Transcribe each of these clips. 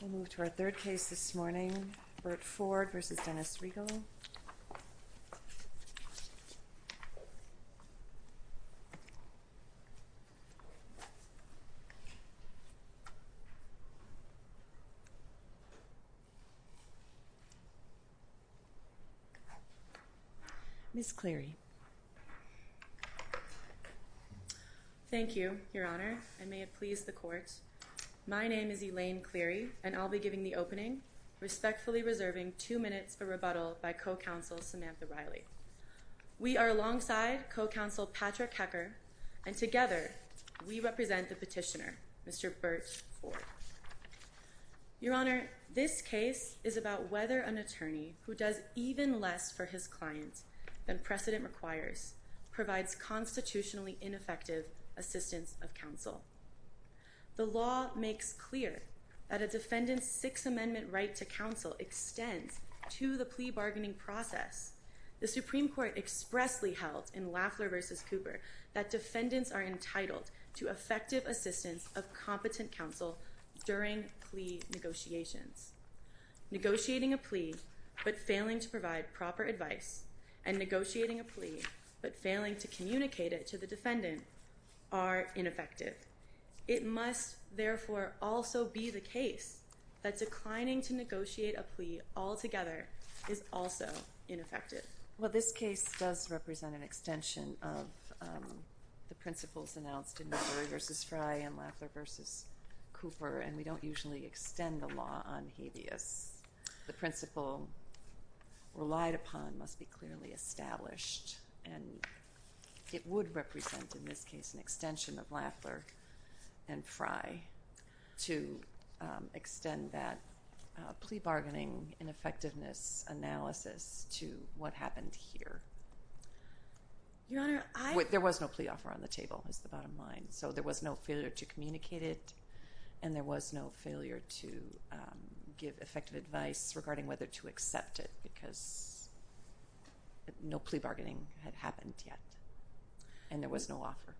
We'll move to our third case this morning, Birt Ford v. Dennis Reagle. Ms. Cleary. Thank you, Your Honor, and may it please the court. My name is Elaine Cleary, and I'll be giving the opening, respectfully reserving two minutes for rebuttal by co-counsel Samantha Riley. We are alongside co-counsel Patrick Hecker, and together we represent the petitioner, Mr. Birt Ford. Your Honor, this case is about whether an attorney who does even less for his client than precedent requires provides constitutionally ineffective assistance of counsel. The law makes clear that a defendant's Sixth Amendment right to counsel extends to the plea bargaining process. The Supreme Court expressly held in Lafler v. Cooper that defendants are entitled to effective assistance of competent counsel during plea negotiations. Negotiating a plea, but failing to provide proper advice, and negotiating a plea, but failing to communicate it to the defendant, are ineffective. It must, therefore, also be the case that declining to negotiate a plea altogether is also ineffective. Well, this case does represent an extension of the principles announced in McCurry v. Fry and Lafler v. Cooper, and we don't usually extend the law on habeas. The principle relied upon must be clearly established, and it would represent, in this case, an extension of Lafler and Fry to extend that plea bargaining and effectiveness analysis to what happened here. Your Honor, I... There was no plea offer on the table, is the bottom line. So there was no failure to communicate it, and there was no failure to give effective advice regarding whether to accept it because no plea bargaining had happened yet, and there was no offer.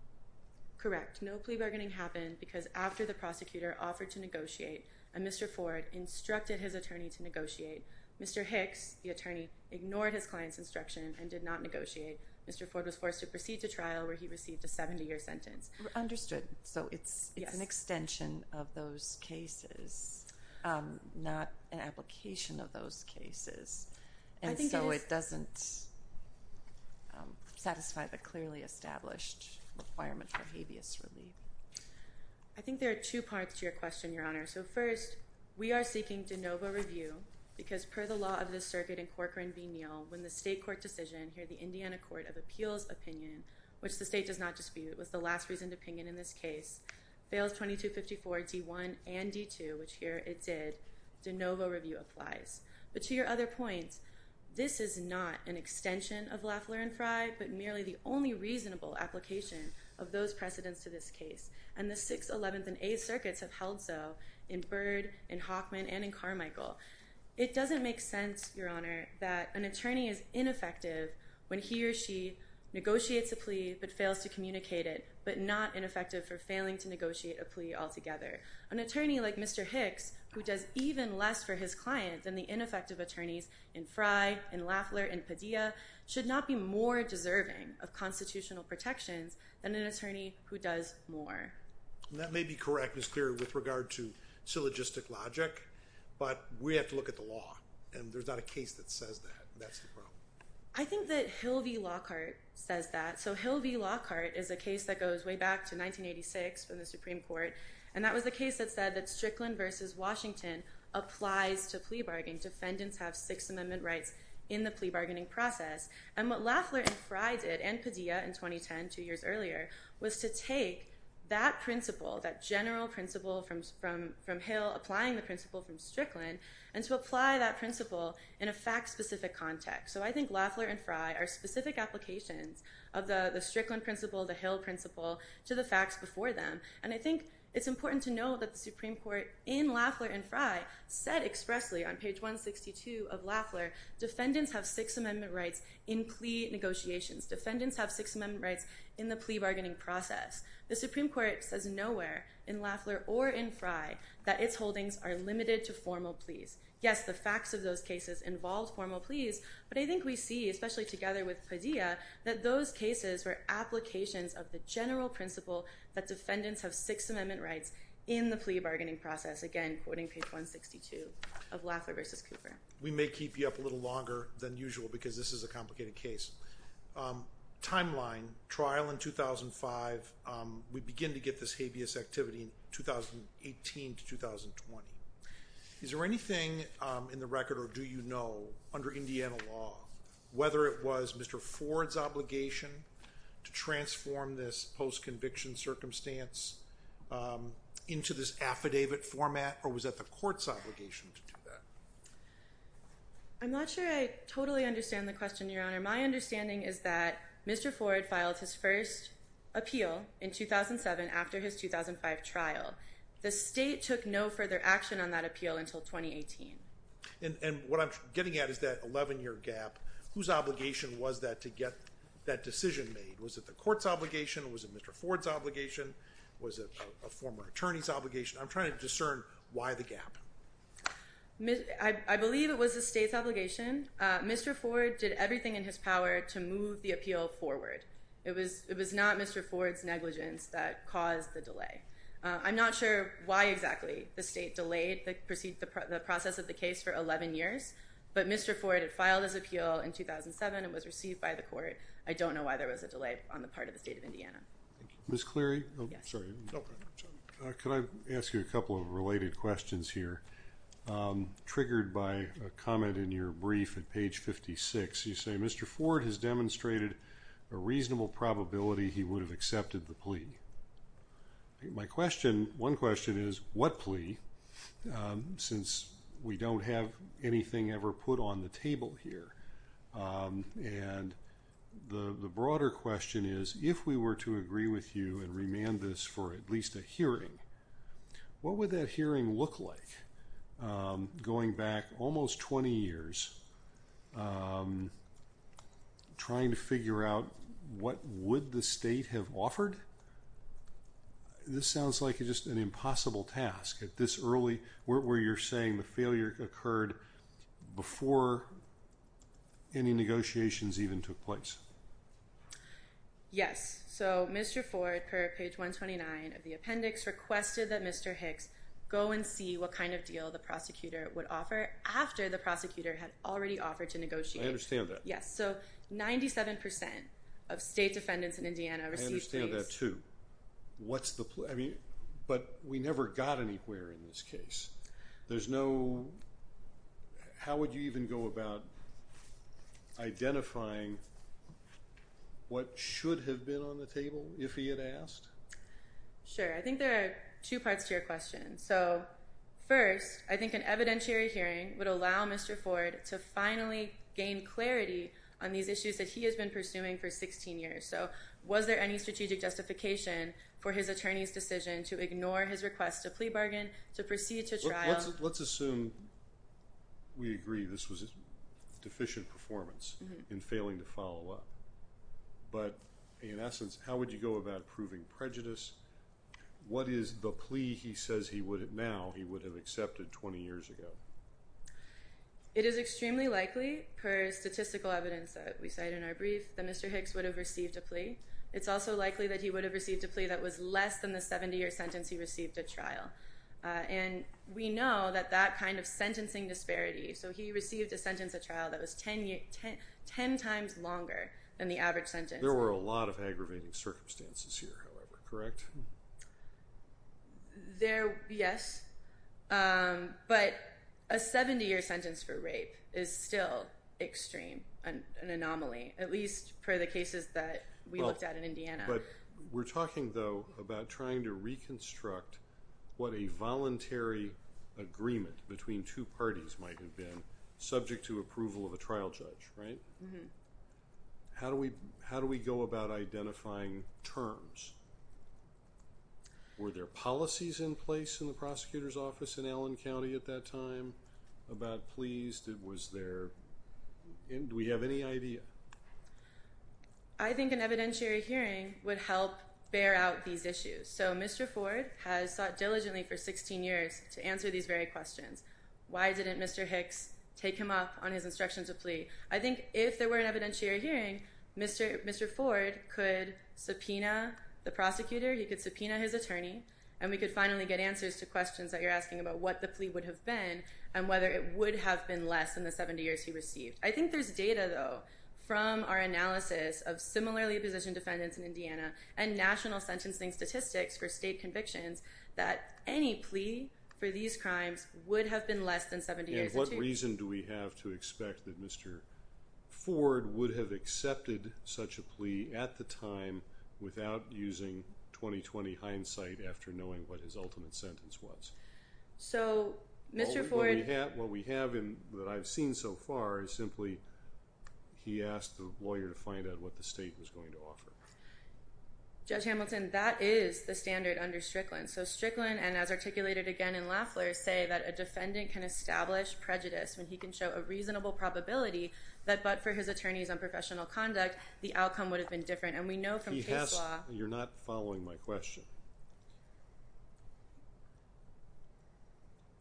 Correct. No plea bargaining happened because after the prosecutor offered to negotiate and Mr. Ford instructed his attorney to negotiate, Mr. Hicks, the attorney, ignored his client's instruction and did not negotiate. Mr. Ford was forced to proceed to trial where he received a 70-year sentence. Understood. So it's an extension of those cases, not an application of those cases. And so it doesn't satisfy the clearly established requirement for habeas relief. I think there are two parts to your question, Your Honor. So first, we are seeking de novo review because per the law of this circuit in Corcoran v. Neal, when the state court decision, here the Indiana Court of Appeals opinion, which the state does not dispute, was the last reasoned opinion in this case, fails 2254 D1 and D2, which here it did, de novo review applies. But to your other point, this is not an extension of Lafleur and Frye, but merely the only reasonable application of those precedents to this case. And the 6th, 11th, and 8th circuits have held so in Byrd, in Hoffman, and in Carmichael. It doesn't make sense, Your Honor, that an attorney is ineffective when he or she negotiates a plea but fails to communicate it, but not ineffective for failing to negotiate a plea altogether. An attorney like Mr. Hicks, who does even less for his client than the ineffective attorneys in Frye, in Lafleur, and Padilla, should not be more deserving of constitutional protections than an attorney who does more. That may be correct, Ms. Cleary, with regard to syllogistic logic, but we have to look at the law. And there's not a case that says that. That's the problem. I think that Hill v. Lockhart says that. So Hill v. Lockhart is a case that goes way back to 1986 in the Supreme Court. And that was the case that said that Strickland versus Washington applies to plea bargaining. Defendants have Sixth Amendment rights in the plea bargaining process. And what Lafleur and Frye did, and Padilla in 2010, two years earlier, was to take that principle, that general principle from Hill, applying the principle from Strickland, and to apply that principle in a fact-specific context. So I think Lafleur and Frye are specific applications of the Strickland principle, the Hill principle, to the facts before them. And I think it's important to know that the Supreme Court in Lafleur and Frye said expressly on page 162 of Lafleur, defendants have Sixth Amendment rights in plea negotiations. Defendants have Sixth Amendment rights in the plea bargaining process. The Supreme Court says nowhere in Lafleur or in Frye that its holdings are limited to formal pleas. Yes, the facts of those cases involved formal pleas, but I think we see, especially together with Padilla, that those cases were applications of the general principle that defendants have Sixth Amendment rights in the plea bargaining process. Again, quoting page 162 of Lafleur versus Cooper. We may keep you up a little longer than usual because this is a complicated case. Timeline, trial in 2005. We begin to get this habeas activity in 2018 to 2020. Is there anything in the record, or do you know, under Indiana law, whether it was Mr. Ford's obligation to transform this post-conviction circumstance into this affidavit format, or was that the court's obligation to do that? I'm not sure I totally understand the question, Your Honor. My understanding is that Mr. Ford filed his first appeal in 2007 after his 2005 trial. The state took no further action on that appeal until 2018. And what I'm getting at is that 11-year gap. Whose obligation was that to get that decision made? Was it the court's obligation? Was it Mr. Ford's obligation? Was it a former attorney's obligation? I'm trying to discern why the gap. I believe it was the state's obligation. Mr. Ford did everything in his power to move the appeal forward. It was not Mr. Ford's negligence that caused the delay. I'm not sure why exactly the state delayed the process of the case for 11 years, but Mr. Ford had filed his appeal in 2007. It was received by the court. I don't know why there was a delay on the part of the state of Indiana. Ms. Cleary? Yes. Sorry. Can I ask you a couple of related questions here? Triggered by a comment in your brief at page 56, you say, Mr. Ford has demonstrated a reasonable probability he would have accepted the plea. My question, one question is, what plea, since we don't have anything ever put on the table here? And the broader question is, if we were to agree with you and remand this for at least a hearing, what would that hearing look like? Going back almost 20 years, trying to figure out what would the state have offered? This sounds like just an impossible task at this early, where you're saying the failure occurred before any negotiations even took place. Yes. So, Mr. Ford, per page 129 of the appendix, requested that Mr. Hicks go and see what kind of deal the prosecutor would offer after the prosecutor had already offered to negotiate. I understand that. Yes. So, 97% of state defendants in Indiana received pleas. I understand that, too. What's the plea? I mean, but we never got anywhere in this case. There's no, how would you even go about identifying what should have been on the table if he had asked? Sure. I think there are two parts to your question. So, first, I think an evidentiary hearing would allow Mr. Ford to finally gain clarity on these issues that he has been pursuing for 16 years. So, was there any strategic justification for his attorney's decision to ignore his request to plea bargain, to proceed to trial? Let's assume we agree this was a deficient performance in failing to follow up. But, in essence, how would you go about proving prejudice? What is the plea he says now he would have accepted 20 years ago? It is extremely likely, per statistical evidence that we cite in our brief, that Mr. Hicks would have received a plea. It's also likely that he would have received a plea that was less than the 70-year sentence he received at trial. And we know that that kind of sentencing disparity, so he received a sentence at trial that was 10 times longer than the average sentence. There were a lot of aggravating circumstances here, however, correct? Yes, but a 70-year sentence for rape is still extreme, an anomaly, at least for the cases that we looked at in Indiana. But we're talking, though, about trying to reconstruct what a voluntary agreement between two parties might have been subject to approval of a trial judge, right? How do we go about identifying terms? Were there policies in place in the prosecutor's office in Allen County at that time about pleas? Do we have any idea? I think an evidentiary hearing would help bear out these issues. So Mr. Ford has sought diligently for 16 years to answer these very questions. Why didn't Mr. Hicks take him up on his instructions of plea? I think if there were an evidentiary hearing, Mr. Ford could subpoena the prosecutor, he could subpoena his attorney, and we could finally get answers to questions that you're asking about what the plea would have been and whether it would have been less than the 70 years he received. I think there's data, though, from our analysis of similarly-positioned defendants in Indiana and national sentencing statistics for state convictions that any plea for these crimes would have been less than 70 years or two. And what reason do we have to expect that Mr. Ford would have accepted such a plea at the time without using 20-20 hindsight after knowing what his ultimate sentence was? So Mr. Ford... All that we have that I've seen so far is simply he asked the lawyer to find out what the state was going to offer. Judge Hamilton, that is the standard under Strickland. So Strickland, and as articulated again in Lafler, say that a defendant can establish prejudice when he can show a reasonable probability that but for his attorney's unprofessional conduct, the outcome would have been different. And we know from case law... You're not following my question.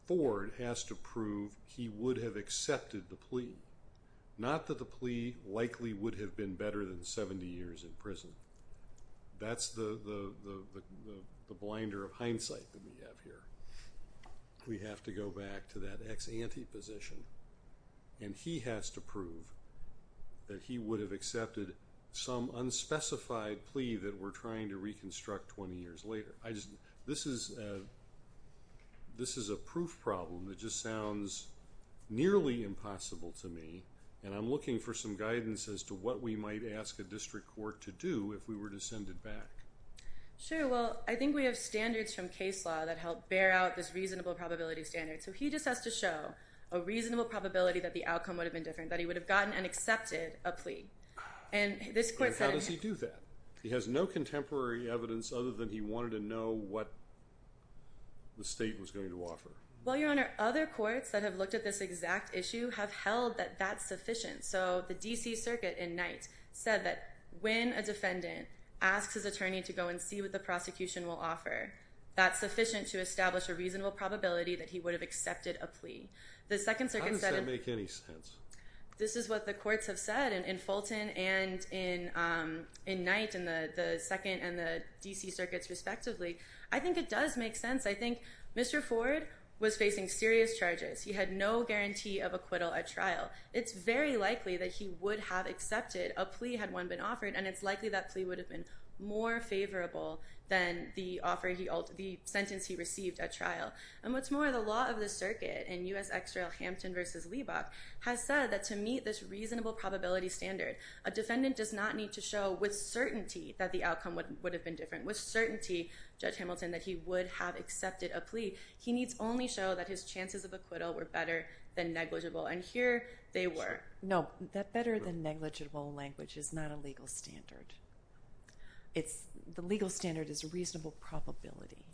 Ford has to prove he would have accepted the plea. Not that the plea likely would have been better than 70 years in prison. That's the blinder of hindsight that we have here. We have to go back to that ex-ante position, and he has to prove that he would have accepted some unspecified plea that we're trying to reconstruct 20 years later. This is a proof problem that just sounds nearly impossible to me, and I'm looking for some guidance as to what we might ask a district court to do if we were to send it back. Sure, well, I think we have standards from case law that help bear out this reasonable probability standard. So he just has to show a reasonable probability that the outcome would have been different, that he would have gotten and accepted a plea. And how does he do that? He has no contemporary evidence other than he wanted to know what the state was going to offer. Well, Your Honor, other courts that have looked at this exact issue have held that that's sufficient. So the D.C. Circuit in Knight said that when a defendant asks his attorney to go and see what the prosecution will offer, that's sufficient to establish a reasonable probability that he would have accepted a plea. How does that make any sense? This is what the courts have said in Fulton and in Knight and the 2nd and the D.C. Circuits respectively. I think it does make sense. I think Mr. Ford was facing serious charges. He had no guarantee of acquittal at trial. It's very likely that he would have accepted a plea had one been offered, and it's likely that plea would have been more favorable than the sentence he received at trial. And what's more, the law of the circuit in U.S. Exerell Hampton v. Leibach has said that to meet this reasonable probability standard, a defendant does not need to show with certainty that the outcome would have been different, with certainty, Judge Hamilton, that he would have accepted a plea. He needs only show that his chances of acquittal were better than negligible, and here they were. No, that better than negligible language is not a legal standard. The legal standard is reasonable probability.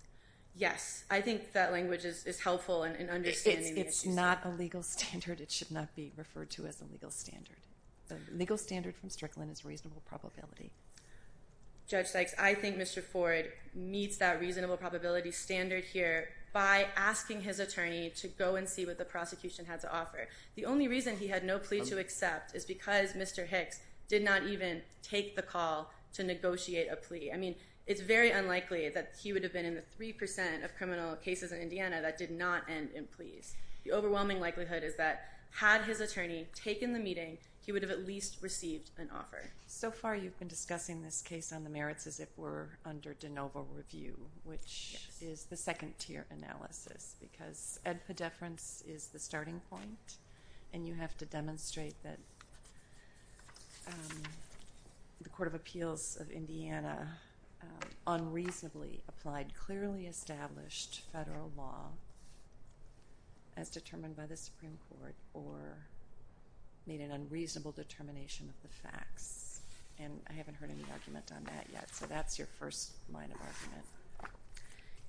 Yes, I think that language is helpful in understanding the issue. It's not a legal standard. It should not be referred to as a legal standard. The legal standard from Strickland is reasonable probability. Judge Sykes, I think Mr. Ford meets that reasonable probability standard here by asking his attorney to go and see what the prosecution had to offer. The only reason he had no plea to accept is because Mr. Hicks did not even take the call to negotiate a plea. I mean, it's very unlikely that he would have been in the 3% of criminal cases in Indiana that did not end in pleas. The overwhelming likelihood is that had his attorney taken the meeting, he would have at least received an offer. So far you've been discussing this case on the merits as if we're under de novo review, which is the second-tier analysis because ed pedeference is the starting point, and you have to demonstrate that the Court of Appeals of Indiana unreasonably applied clearly established federal law as determined by the Supreme Court or made an unreasonable determination of the facts, and I haven't heard any argument on that yet. So that's your first line of argument.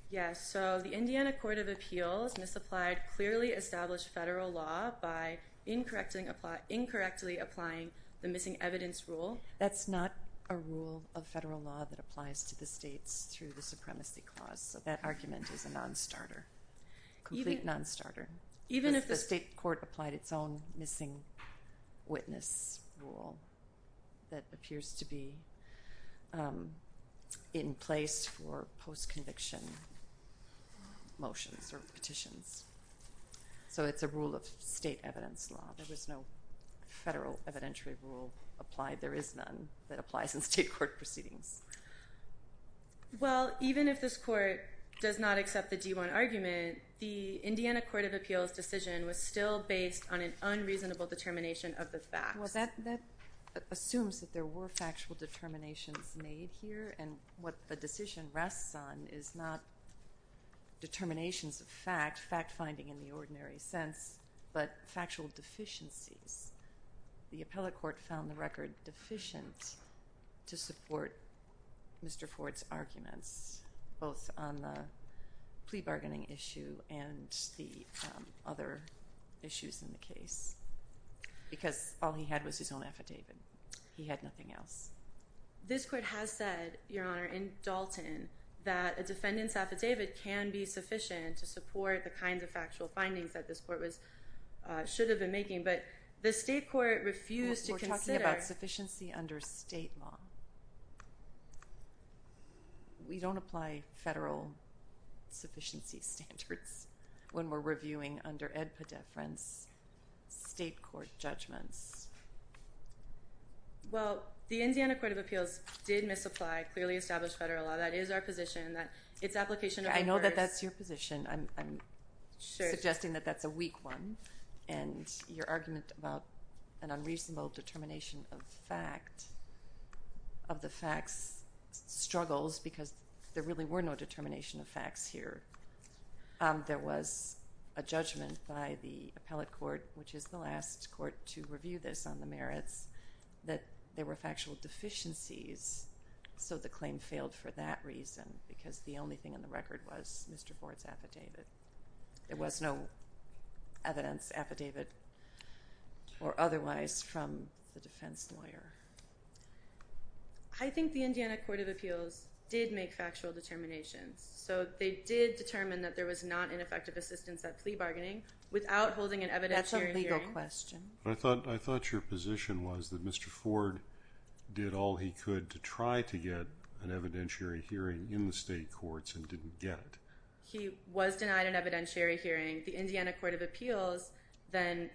Yes, so the Indiana Court of Appeals misapplied clearly established federal law by incorrectly applying the missing evidence rule. That's not a rule of federal law that applies to the states through the supremacy clause, so that argument is a nonstarter. A complete nonstarter. Even if the state court applied its own missing witness rule that appears to be in place for post-conviction motions or petitions. So it's a rule of state evidence law. There was no federal evidentiary rule applied. There is none that applies in state court proceedings. Well, even if this court does not accept the D-1 argument, the Indiana Court of Appeals decision was still based on an unreasonable determination of the facts. Well, that assumes that there were factual determinations made here, and what the decision rests on is not determinations of fact, fact-finding in the ordinary sense, but factual deficiencies. The appellate court found the record deficient to support Mr. Ford's arguments, both on the plea bargaining issue and the other issues in the case, because all he had was his own affidavit. He had nothing else. This court has said, Your Honor, in Dalton, that a defendant's affidavit can be sufficient to support the kinds of factual findings that this court should have been making, but the state court refused to consider... We're talking about sufficiency under state law. We don't apply federal sufficiency standards when we're reviewing under ed pedeference state court judgments. Well, the Indiana Court of Appeals did misapply clearly established federal law. That is our position. I know that that's your position. I'm suggesting that that's a weak one, and your argument about an unreasonable determination of fact of the facts struggles because there really were no determination of facts here. There was a judgment by the appellate court, which is the last court to review this on the merits, that there were factual deficiencies, so the claim failed for that reason because the only thing in the record was Mr. Ford's affidavit. There was no evidence affidavit or otherwise from the defense lawyer. I think the Indiana Court of Appeals did make factual determinations, so they did determine that there was not ineffective assistance at plea bargaining without holding an evidentiary hearing. That's a legal question. I thought your position was that Mr. Ford did all he could to try to get an evidentiary hearing in the state courts and didn't get it. He was denied an evidentiary hearing. The Indiana Court of Appeals then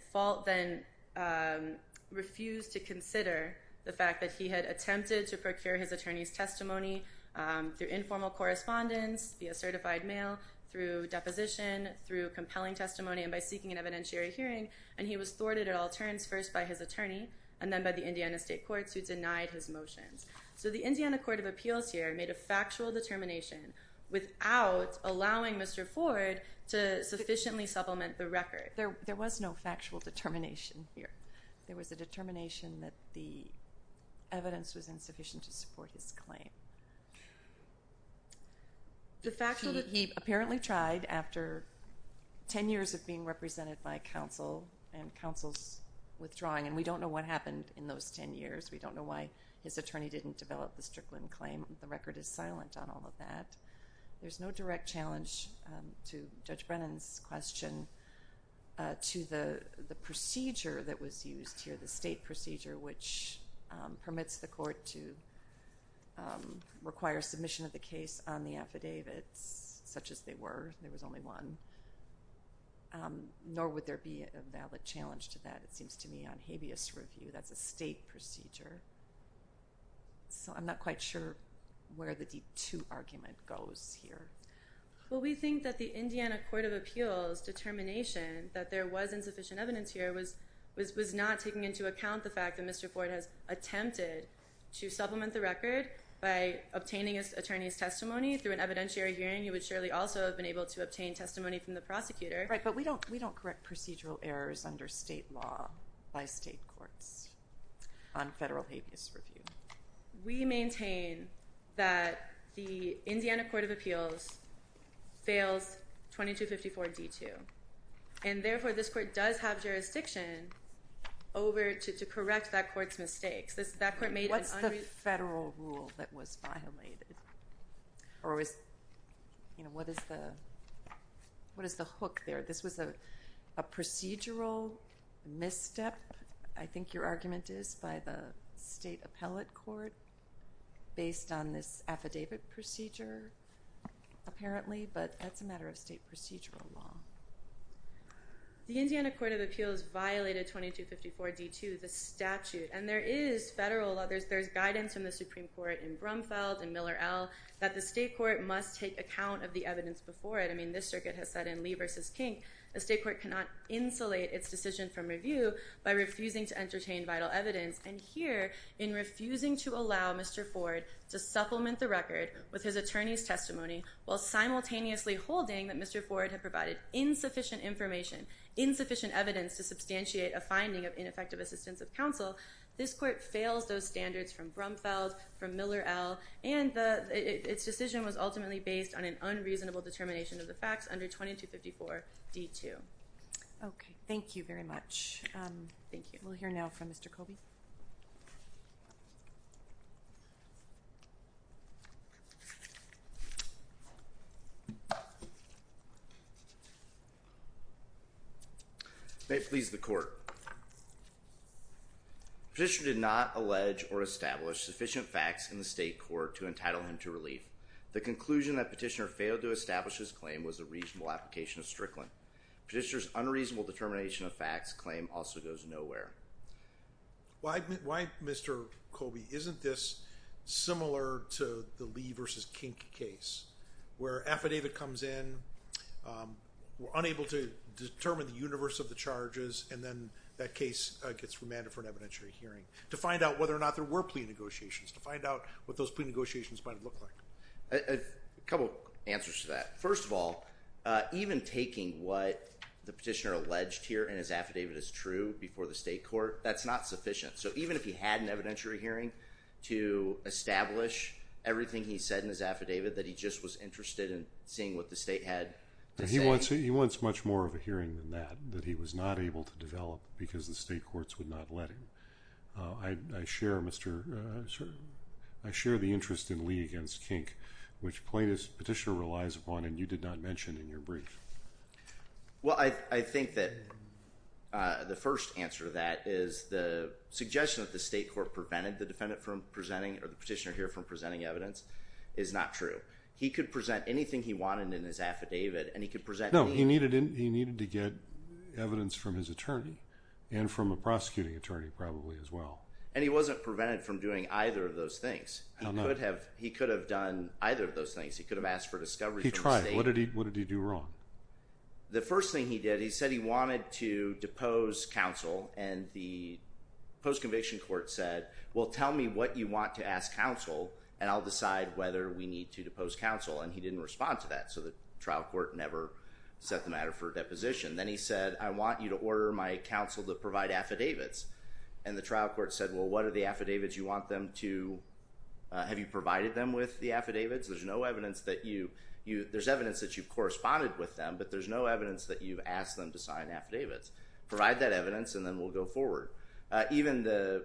refused to consider the fact that he had attempted to procure his attorney's testimony through informal correspondence, via certified mail, through deposition, through compelling testimony, and by seeking an evidentiary hearing, and he was thwarted at all turns, first by his attorney and then by the Indiana state courts, who denied his motions. So the Indiana Court of Appeals here made a factual determination without allowing Mr. Ford to sufficiently supplement the record. There was no factual determination here. There was a determination that the evidence was insufficient to support his claim. He apparently tried after 10 years of being represented by counsel and counsel's withdrawing, and we don't know what happened in those 10 years. We don't know why his attorney didn't develop the Strickland claim. The record is silent on all of that. There's no direct challenge to Judge Brennan's question to the procedure that was used here, the state procedure, which permits the court to require submission of the case on the affidavits, such as they were. There was only one. Nor would there be a valid challenge to that, it seems to me, on habeas review. That's a state procedure. So I'm not quite sure where the D2 argument goes here. Well, we think that the Indiana Court of Appeals determination that there was insufficient evidence here was not taking into account the fact that Mr. Ford has attempted to supplement the record by obtaining his attorney's testimony through an evidentiary hearing. He would surely also have been able to obtain testimony from the prosecutor. Right, but we don't correct procedural errors under state law by state courts on federal habeas review. We maintain that the Indiana Court of Appeals fails 2254 D2, and therefore this court does have jurisdiction over to correct that court's mistakes. What's the federal rule that was violated, or what is the hook there? This was a procedural misstep, I think your argument is, by the state appellate court based on this affidavit procedure, apparently, but that's a matter of state procedural law. The Indiana Court of Appeals violated 2254 D2, the statute, and there is federal, there's guidance from the Supreme Court in Brumfeld, in Miller, L., that the state court must take account of the evidence before it. I mean, this circuit has said in Lee v. Kink, a state court cannot insulate its decision from review by refusing to entertain vital evidence. And here, in refusing to allow Mr. Ford to supplement the record with his attorney's testimony while simultaneously holding that Mr. Ford had provided insufficient information, insufficient evidence to substantiate a finding of ineffective assistance of counsel, this court fails those standards from Brumfeld, from Miller, L., and its decision was ultimately based on an unreasonable determination of the facts under 2254 D2. Okay. Thank you very much. Thank you. We'll hear now from Mr. Colby. May it please the Court. Petitioner did not allege or establish sufficient facts in the state court to entitle him to relief. The conclusion that Petitioner failed to establish his claim was a reasonable application of Strickland. Petitioner's unreasonable determination of facts claim also goes nowhere. Why, Mr. Colby, isn't this similar to the Lee v. Kink case, where affidavit comes in, we're unable to determine the universe of the charges, and then that case gets remanded for an evidentiary hearing to find out whether or not there were plea negotiations, to find out what those plea negotiations might have looked like? A couple of answers to that. First of all, even taking what the petitioner alleged here in his affidavit as true before the state court, that's not sufficient. So even if he had an evidentiary hearing to establish everything he said in his affidavit, that he just was interested in seeing what the state had to say? He wants much more of a hearing than that, that he was not able to develop because the state courts would not let him. I share the interest in Lee v. Kink, which plaintiff's petitioner relies upon, and you did not mention in your brief. Well, I think that the first answer to that is the suggestion that the state court prevented the defendant from presenting or the petitioner here from presenting evidence is not true. He could present anything he wanted in his affidavit, and he could present to me. No, he needed to get evidence from his attorney and from a prosecuting attorney probably as well. And he wasn't prevented from doing either of those things. How not? He could have done either of those things. He could have asked for discovery from the state. He tried. What did he do wrong? The first thing he did, he said he wanted to depose counsel, and the post-conviction court said, well, tell me what you want to ask counsel, and I'll decide whether we need to depose counsel. And he didn't respond to that, so the trial court never set the matter for deposition. Then he said, I want you to order my counsel to provide affidavits, and the trial court said, well, what are the affidavits you want them to, have you provided them with the affidavits? There's no evidence that you, there's evidence that you've corresponded with them, but there's no evidence that you've asked them to sign affidavits. Provide that evidence, and then we'll go forward. Even the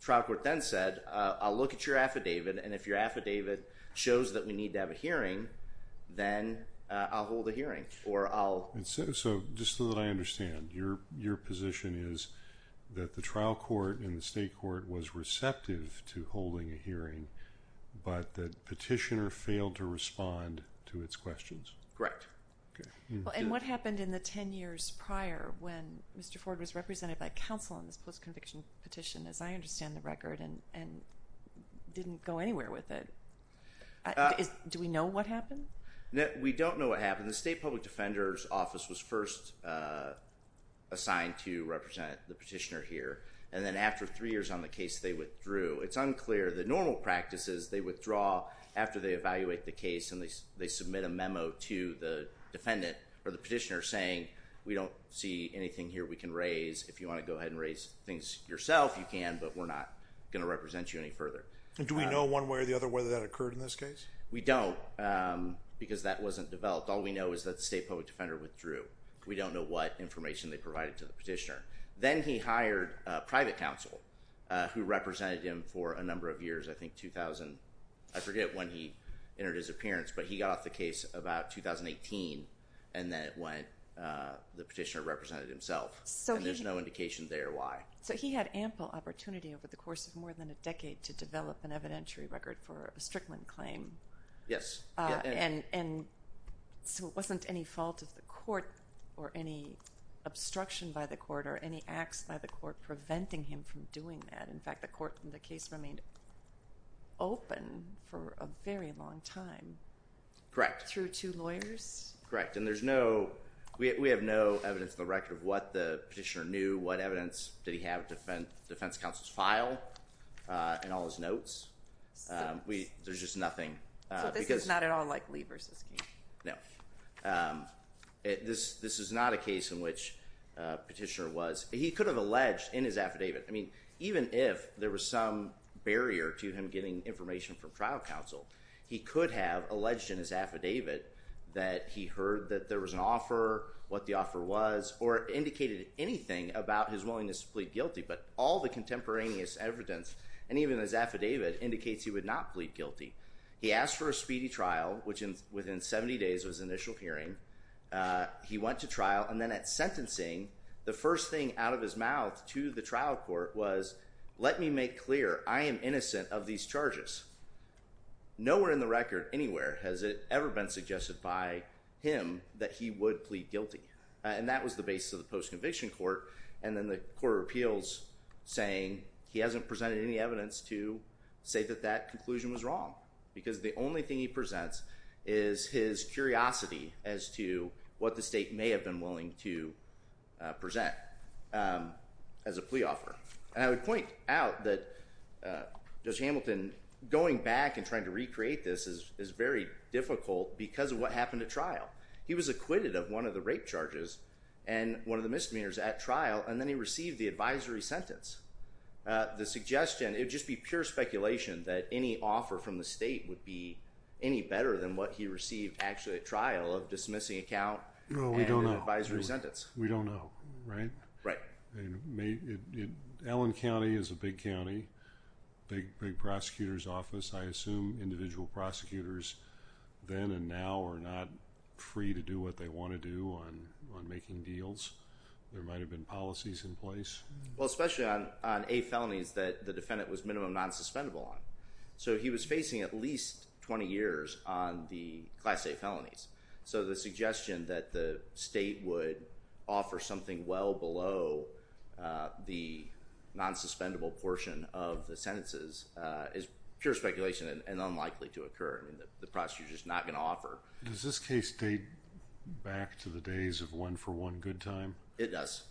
trial court then said, I'll look at your affidavit, and if your affidavit shows that we need to have a hearing, then I'll hold a hearing, or I'll. So just so that I understand, your position is that the trial court and the state court was receptive to holding a hearing, but the petitioner failed to respond to its questions? Correct. Okay. And what happened in the 10 years prior when Mr. Ford was represented by counsel on this post-conviction petition, as I understand the record, and didn't go anywhere with it. Do we know what happened? We don't know what happened. The state public defender's office was first assigned to represent the petitioner here, and then after three years on the case, they withdrew. It's unclear. The normal practice is they withdraw after they evaluate the case, and they submit a memo to the defendant or the petitioner saying, we don't see anything here we can raise. If you want to go ahead and raise things yourself, you can, but we're not going to represent you any further. Do we know one way or the other whether that occurred in this case? We don't, because that wasn't developed. All we know is that the state public defender withdrew. We don't know what information they provided to the petitioner. Then he hired a private counsel who represented him for a number of years, I think 2000, I forget when he entered his appearance, but he got off the case about 2018, and then the petitioner represented himself. There's no indication there why. So he had ample opportunity over the course of more than a decade to develop an evidentiary record for a Strickland claim. Yes. So it wasn't any fault of the court or any obstruction by the court or any acts by the court preventing him from doing that. In fact, the case remained open for a very long time. Correct. Through two lawyers? Correct. And we have no evidence in the record of what the petitioner knew, what evidence did he have at defense counsel's file in all his notes. There's just nothing. So this is not at all like Lee v. King? No. This is not a case in which petitioner was. He could have alleged in his affidavit. I mean, even if there was some barrier to him getting information from trial counsel, he could have alleged in his affidavit that he heard that there was an offer, what the offer was, or indicated anything about his willingness to plead guilty. But all the contemporaneous evidence, and even his affidavit, indicates he would not plead guilty. He asked for a speedy trial, which within 70 days of his initial hearing, he went to trial, and then at sentencing, the first thing out of his mouth to the trial court was, let me make clear, I am innocent of these charges. Nowhere in the record, anywhere, has it ever been suggested by him that he would plead guilty. And that was the basis of the post-conviction court. And then the court of appeals saying he hasn't presented any evidence to say that that conclusion was wrong. Because the only thing he presents is his curiosity as to what the state may have been willing to present as a plea offer. And I would point out that Judge Hamilton, going back and trying to recreate this, is very difficult because of what happened at trial. He was acquitted of one of the rape charges and one of the misdemeanors at trial, and then he received the advisory sentence. The suggestion, it would just be pure speculation that any offer from the state would be any better than what he received actually at trial of dismissing account and advisory sentence. No, we don't know. We don't know, right? Right. Allen County is a big county, big prosecutor's office, I assume. Individual prosecutors then and now are not free to do what they want to do on making deals. There might have been policies in place. Well, especially on eight felonies that the defendant was minimum non-suspendable on. So he was facing at least 20 years on the class A felonies. So the suggestion that the state would offer something well below the non-suspendable portion of the sentences is pure speculation and unlikely to occur. I mean, the prosecutor's just not going to offer. Does this case date back to the days of one for one good time? It does.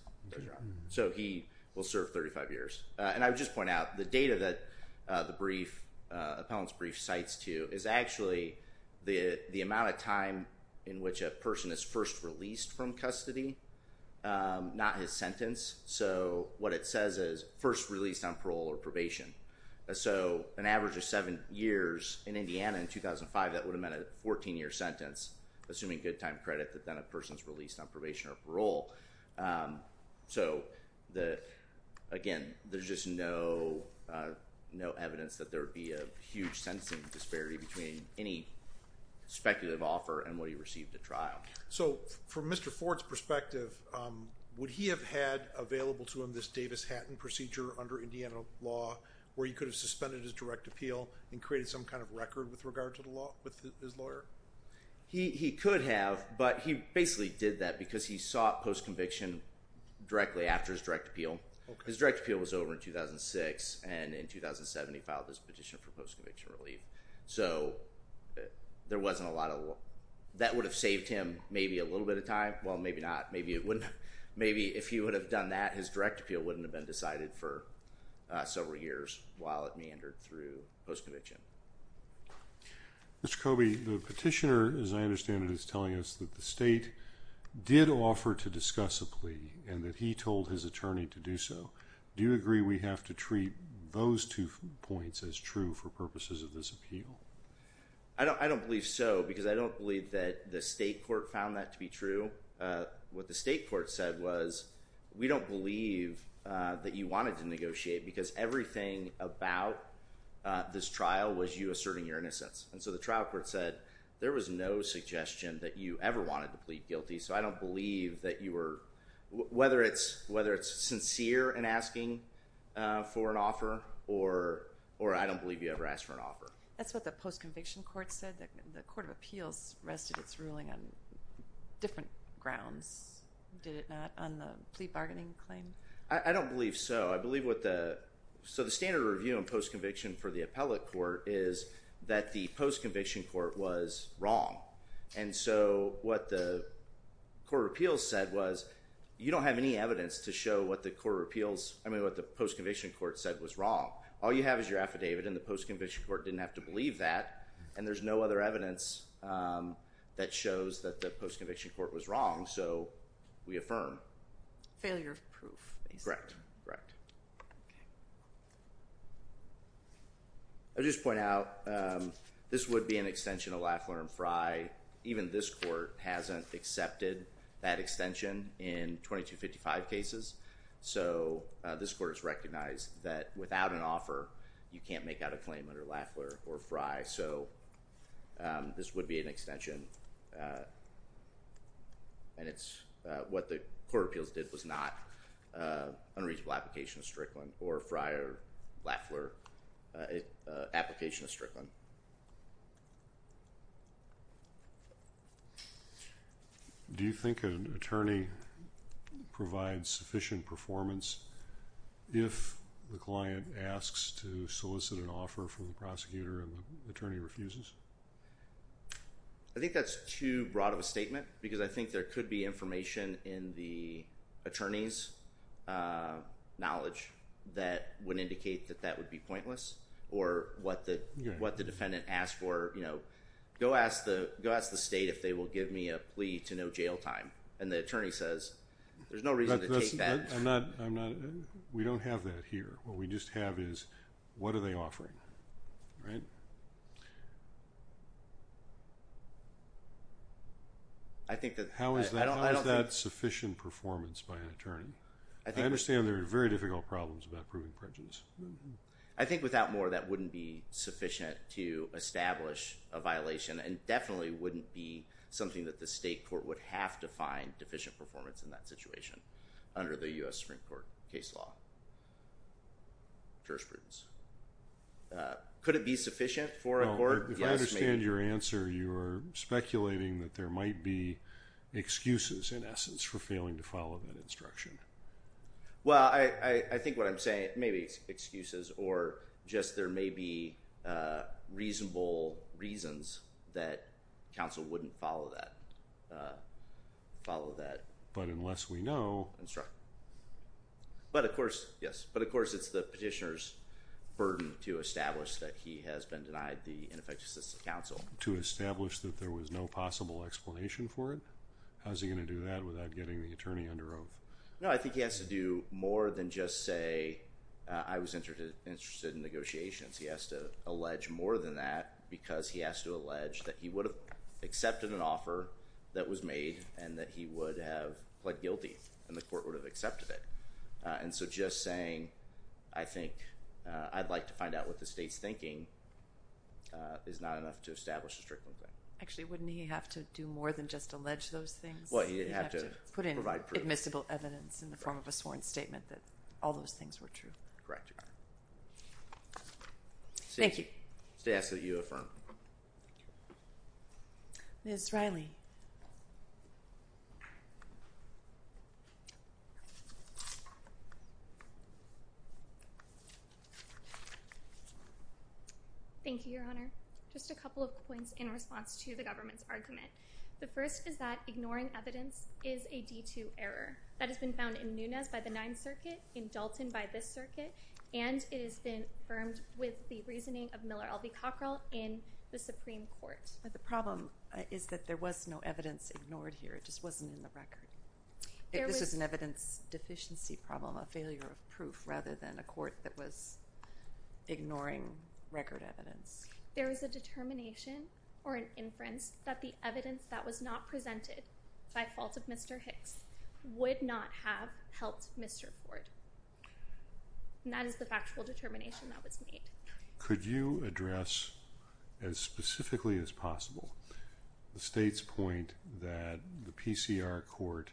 So he will serve 35 years. And I would just point out the data that the brief, appellant's brief cites to is actually the amount of time in which a person is first released from custody, not his sentence. So what it says is first released on parole or probation. So an average of seven years in Indiana in 2005, that would have meant a 14-year sentence, assuming good time credit that then a person's released on probation or parole. So, again, there's just no evidence that there would be a huge sentencing disparity between any speculative offer and what he received at trial. So from Mr. Ford's perspective, would he have had available to him this Davis-Hatton procedure under Indiana law where he could have suspended his direct appeal and created some kind of record with regard to the law with his lawyer? He could have, but he basically did that because he sought post-conviction directly after his direct appeal. His direct appeal was over in 2006, and in 2007 he filed his petition for post-conviction relief. So there wasn't a lot of law. That would have saved him maybe a little bit of time. Well, maybe not. Maybe it wouldn't have. Maybe if he would have done that, his direct appeal wouldn't have been decided for several years while it meandered through post-conviction. Mr. Coby, the petitioner, as I understand it, is telling us that the state did offer to discuss a plea and that he told his attorney to do so. Do you agree we have to treat those two points as true for purposes of this appeal? I don't believe so because I don't believe that the state court found that to be true. What the state court said was, we don't believe that you wanted to negotiate because everything about this trial was you asserting your innocence. So the trial court said there was no suggestion that you ever wanted to plead guilty. So I don't believe that you were, whether it's sincere in asking for an offer or I don't believe you ever asked for an offer. That's what the post-conviction court said. The court of appeals rested its ruling on different grounds, did it not, on the plea bargaining claim? I don't believe so. I believe what the, so the standard review in post-conviction for the appellate court is that the post-conviction court was wrong. And so what the court of appeals said was, you don't have any evidence to show what the post-conviction court said was wrong. All you have is your affidavit and the post-conviction court didn't have to believe that, and there's no other evidence that shows that the post-conviction court was wrong. So we affirm. Failure of proof. Correct, correct. I'll just point out, this would be an extension of Lafleur and Frey. Even this court hasn't accepted that extension in 2255 cases. So this court has recognized that without an offer, you can't make out a claim under Lafleur or Frey. So this would be an extension. And it's what the court of appeals did was not unreasonable application of Strickland or Frey or Lafleur application of Strickland. Do you think an attorney provides sufficient performance if the client asks to solicit an offer from the prosecutor and the attorney refuses? I think that's too broad of a statement because I think there could be information in the attorney's knowledge that would indicate that that would be pointless or what the defendant asked for. You know, go ask the state if they will give me a plea to no jail time. And the attorney says there's no reason to take that. We don't have that here. What we just have is what are they offering, right? How is that sufficient performance by an attorney? I understand there are very difficult problems about proving prejudice. I think without more, that wouldn't be sufficient to establish a violation and definitely wouldn't be something that the state court would have to find deficient performance in that situation under the U.S. Supreme Court case law jurisprudence. Could it be sufficient for a court? If I understand your answer, you're speculating that there might be excuses, in essence, for failing to follow that instruction. Well, I think what I'm saying, maybe excuses or just there may be reasonable reasons that counsel wouldn't follow that instruction. But unless we know. But, of course, yes. But, of course, it's the petitioner's burden to establish that he has been denied the ineffective assistance of counsel. To establish that there was no possible explanation for it? How is he going to do that without getting the attorney under oath? No, I think he has to do more than just say, I was interested in negotiations. He has to allege more than that because he has to allege that he would have accepted an offer that was made and that he would have pled guilty and the court would have accepted it. And so just saying, I think, I'd like to find out what the state's thinking, is not enough to establish a strictly claim. Actually, wouldn't he have to do more than just allege those things? Well, he'd have to provide proof. He'd have to put in admissible evidence in the form of a sworn statement that all those things were true. Correct, Your Honor. Thank you. It's to ask that you affirm. Ms. Riley. Thank you, Your Honor. Just a couple of points in response to the government's argument. The first is that ignoring evidence is a D2 error. That has been found in Nunes by the Ninth Circuit, in Dalton by this circuit, and it has been affirmed with the reasoning of Miller L.V. Cockrell in the Supreme Court. The problem is that there was no evidence ignored here. It just wasn't in the record. This was an evidence deficiency problem, a failure of proof, rather than a court that was ignoring record evidence. There was a determination or an inference that the evidence that was not presented by fault of Mr. Hicks would not have helped Mr. Ford. And that is the factual determination that was made. Could you address as specifically as possible the state's point that the PCR court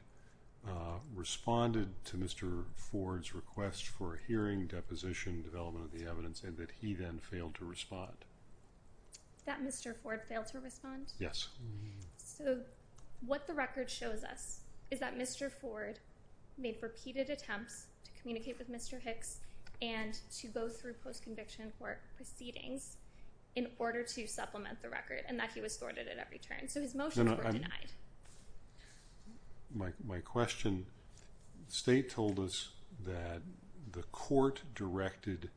responded to Mr. Ford's request for a hearing, deposition, development of the evidence, and that he then failed to respond? That Mr. Ford failed to respond? Yes. So what the record shows us is that Mr. Ford made repeated attempts to communicate with Mr. Hicks and to go through post-conviction court proceedings in order to supplement the record and that he was thwarted at every turn. So his motions were denied. My question, the state told us that the court directed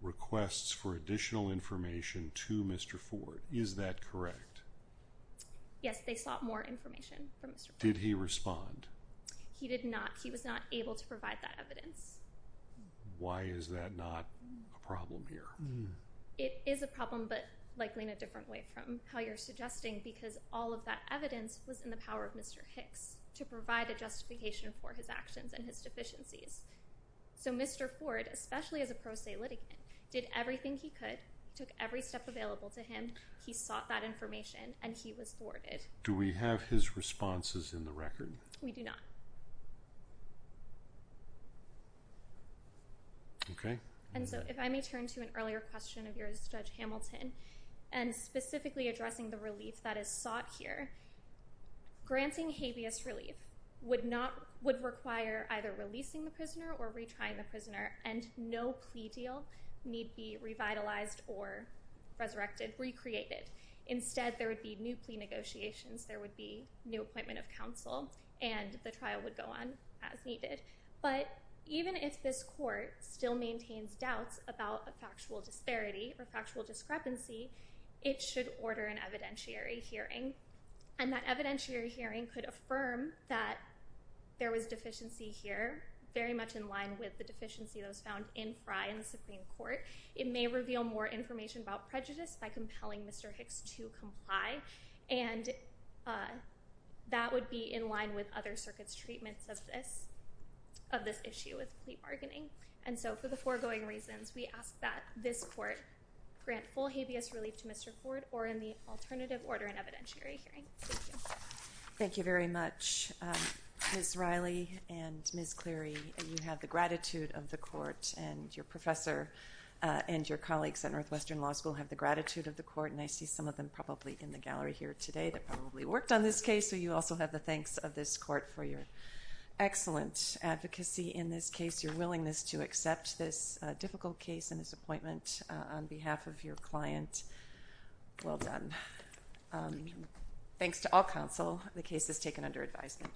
requests for additional information to Mr. Ford. Is that correct? Yes, they sought more information from Mr. Ford. Did he respond? He did not. He was not able to provide that evidence. Why is that not a problem here? It is a problem but likely in a different way from how you're suggesting because all of that evidence was in the power of Mr. Hicks to provide a justification for his actions and his deficiencies. So Mr. Ford, especially as a pro se litigant, did everything he could, he took every step available to him, he sought that information, and he was thwarted. Do we have his responses in the record? We do not. And so if I may turn to an earlier question of yours, Judge Hamilton, and specifically addressing the relief that is sought here, granting habeas relief would require either releasing the prisoner or retrying the prisoner and no plea deal need be revitalized or resurrected, recreated. Instead there would be new plea negotiations, there would be new appointment of counsel, and the trial would go on as needed. But even if this court still maintains doubts about a factual disparity or factual discrepancy, it should order an evidentiary hearing, and that evidentiary hearing could affirm that there was deficiency here, very much in line with the deficiency that was found in Frye in the Supreme Court. It may reveal more information about prejudice by compelling Mr. Hicks to comply, and that would be in line with other circuits' treatments of this issue with plea bargaining. And so for the foregoing reasons, we ask that this court grant full habeas relief to Mr. Ford or in the alternative order an evidentiary hearing. Thank you. Thank you very much. Ms. Riley and Ms. Cleary, you have the gratitude of the court, and your professor and your colleagues at Northwestern Law School have the gratitude of the court, and I see some of them probably in the gallery here today that probably worked on this case, so you also have the thanks of this court for your excellent advocacy in this case, your willingness to accept this difficult case and this appointment on behalf of your client. Well done. Thanks to all counsel. The case is taken under advisement.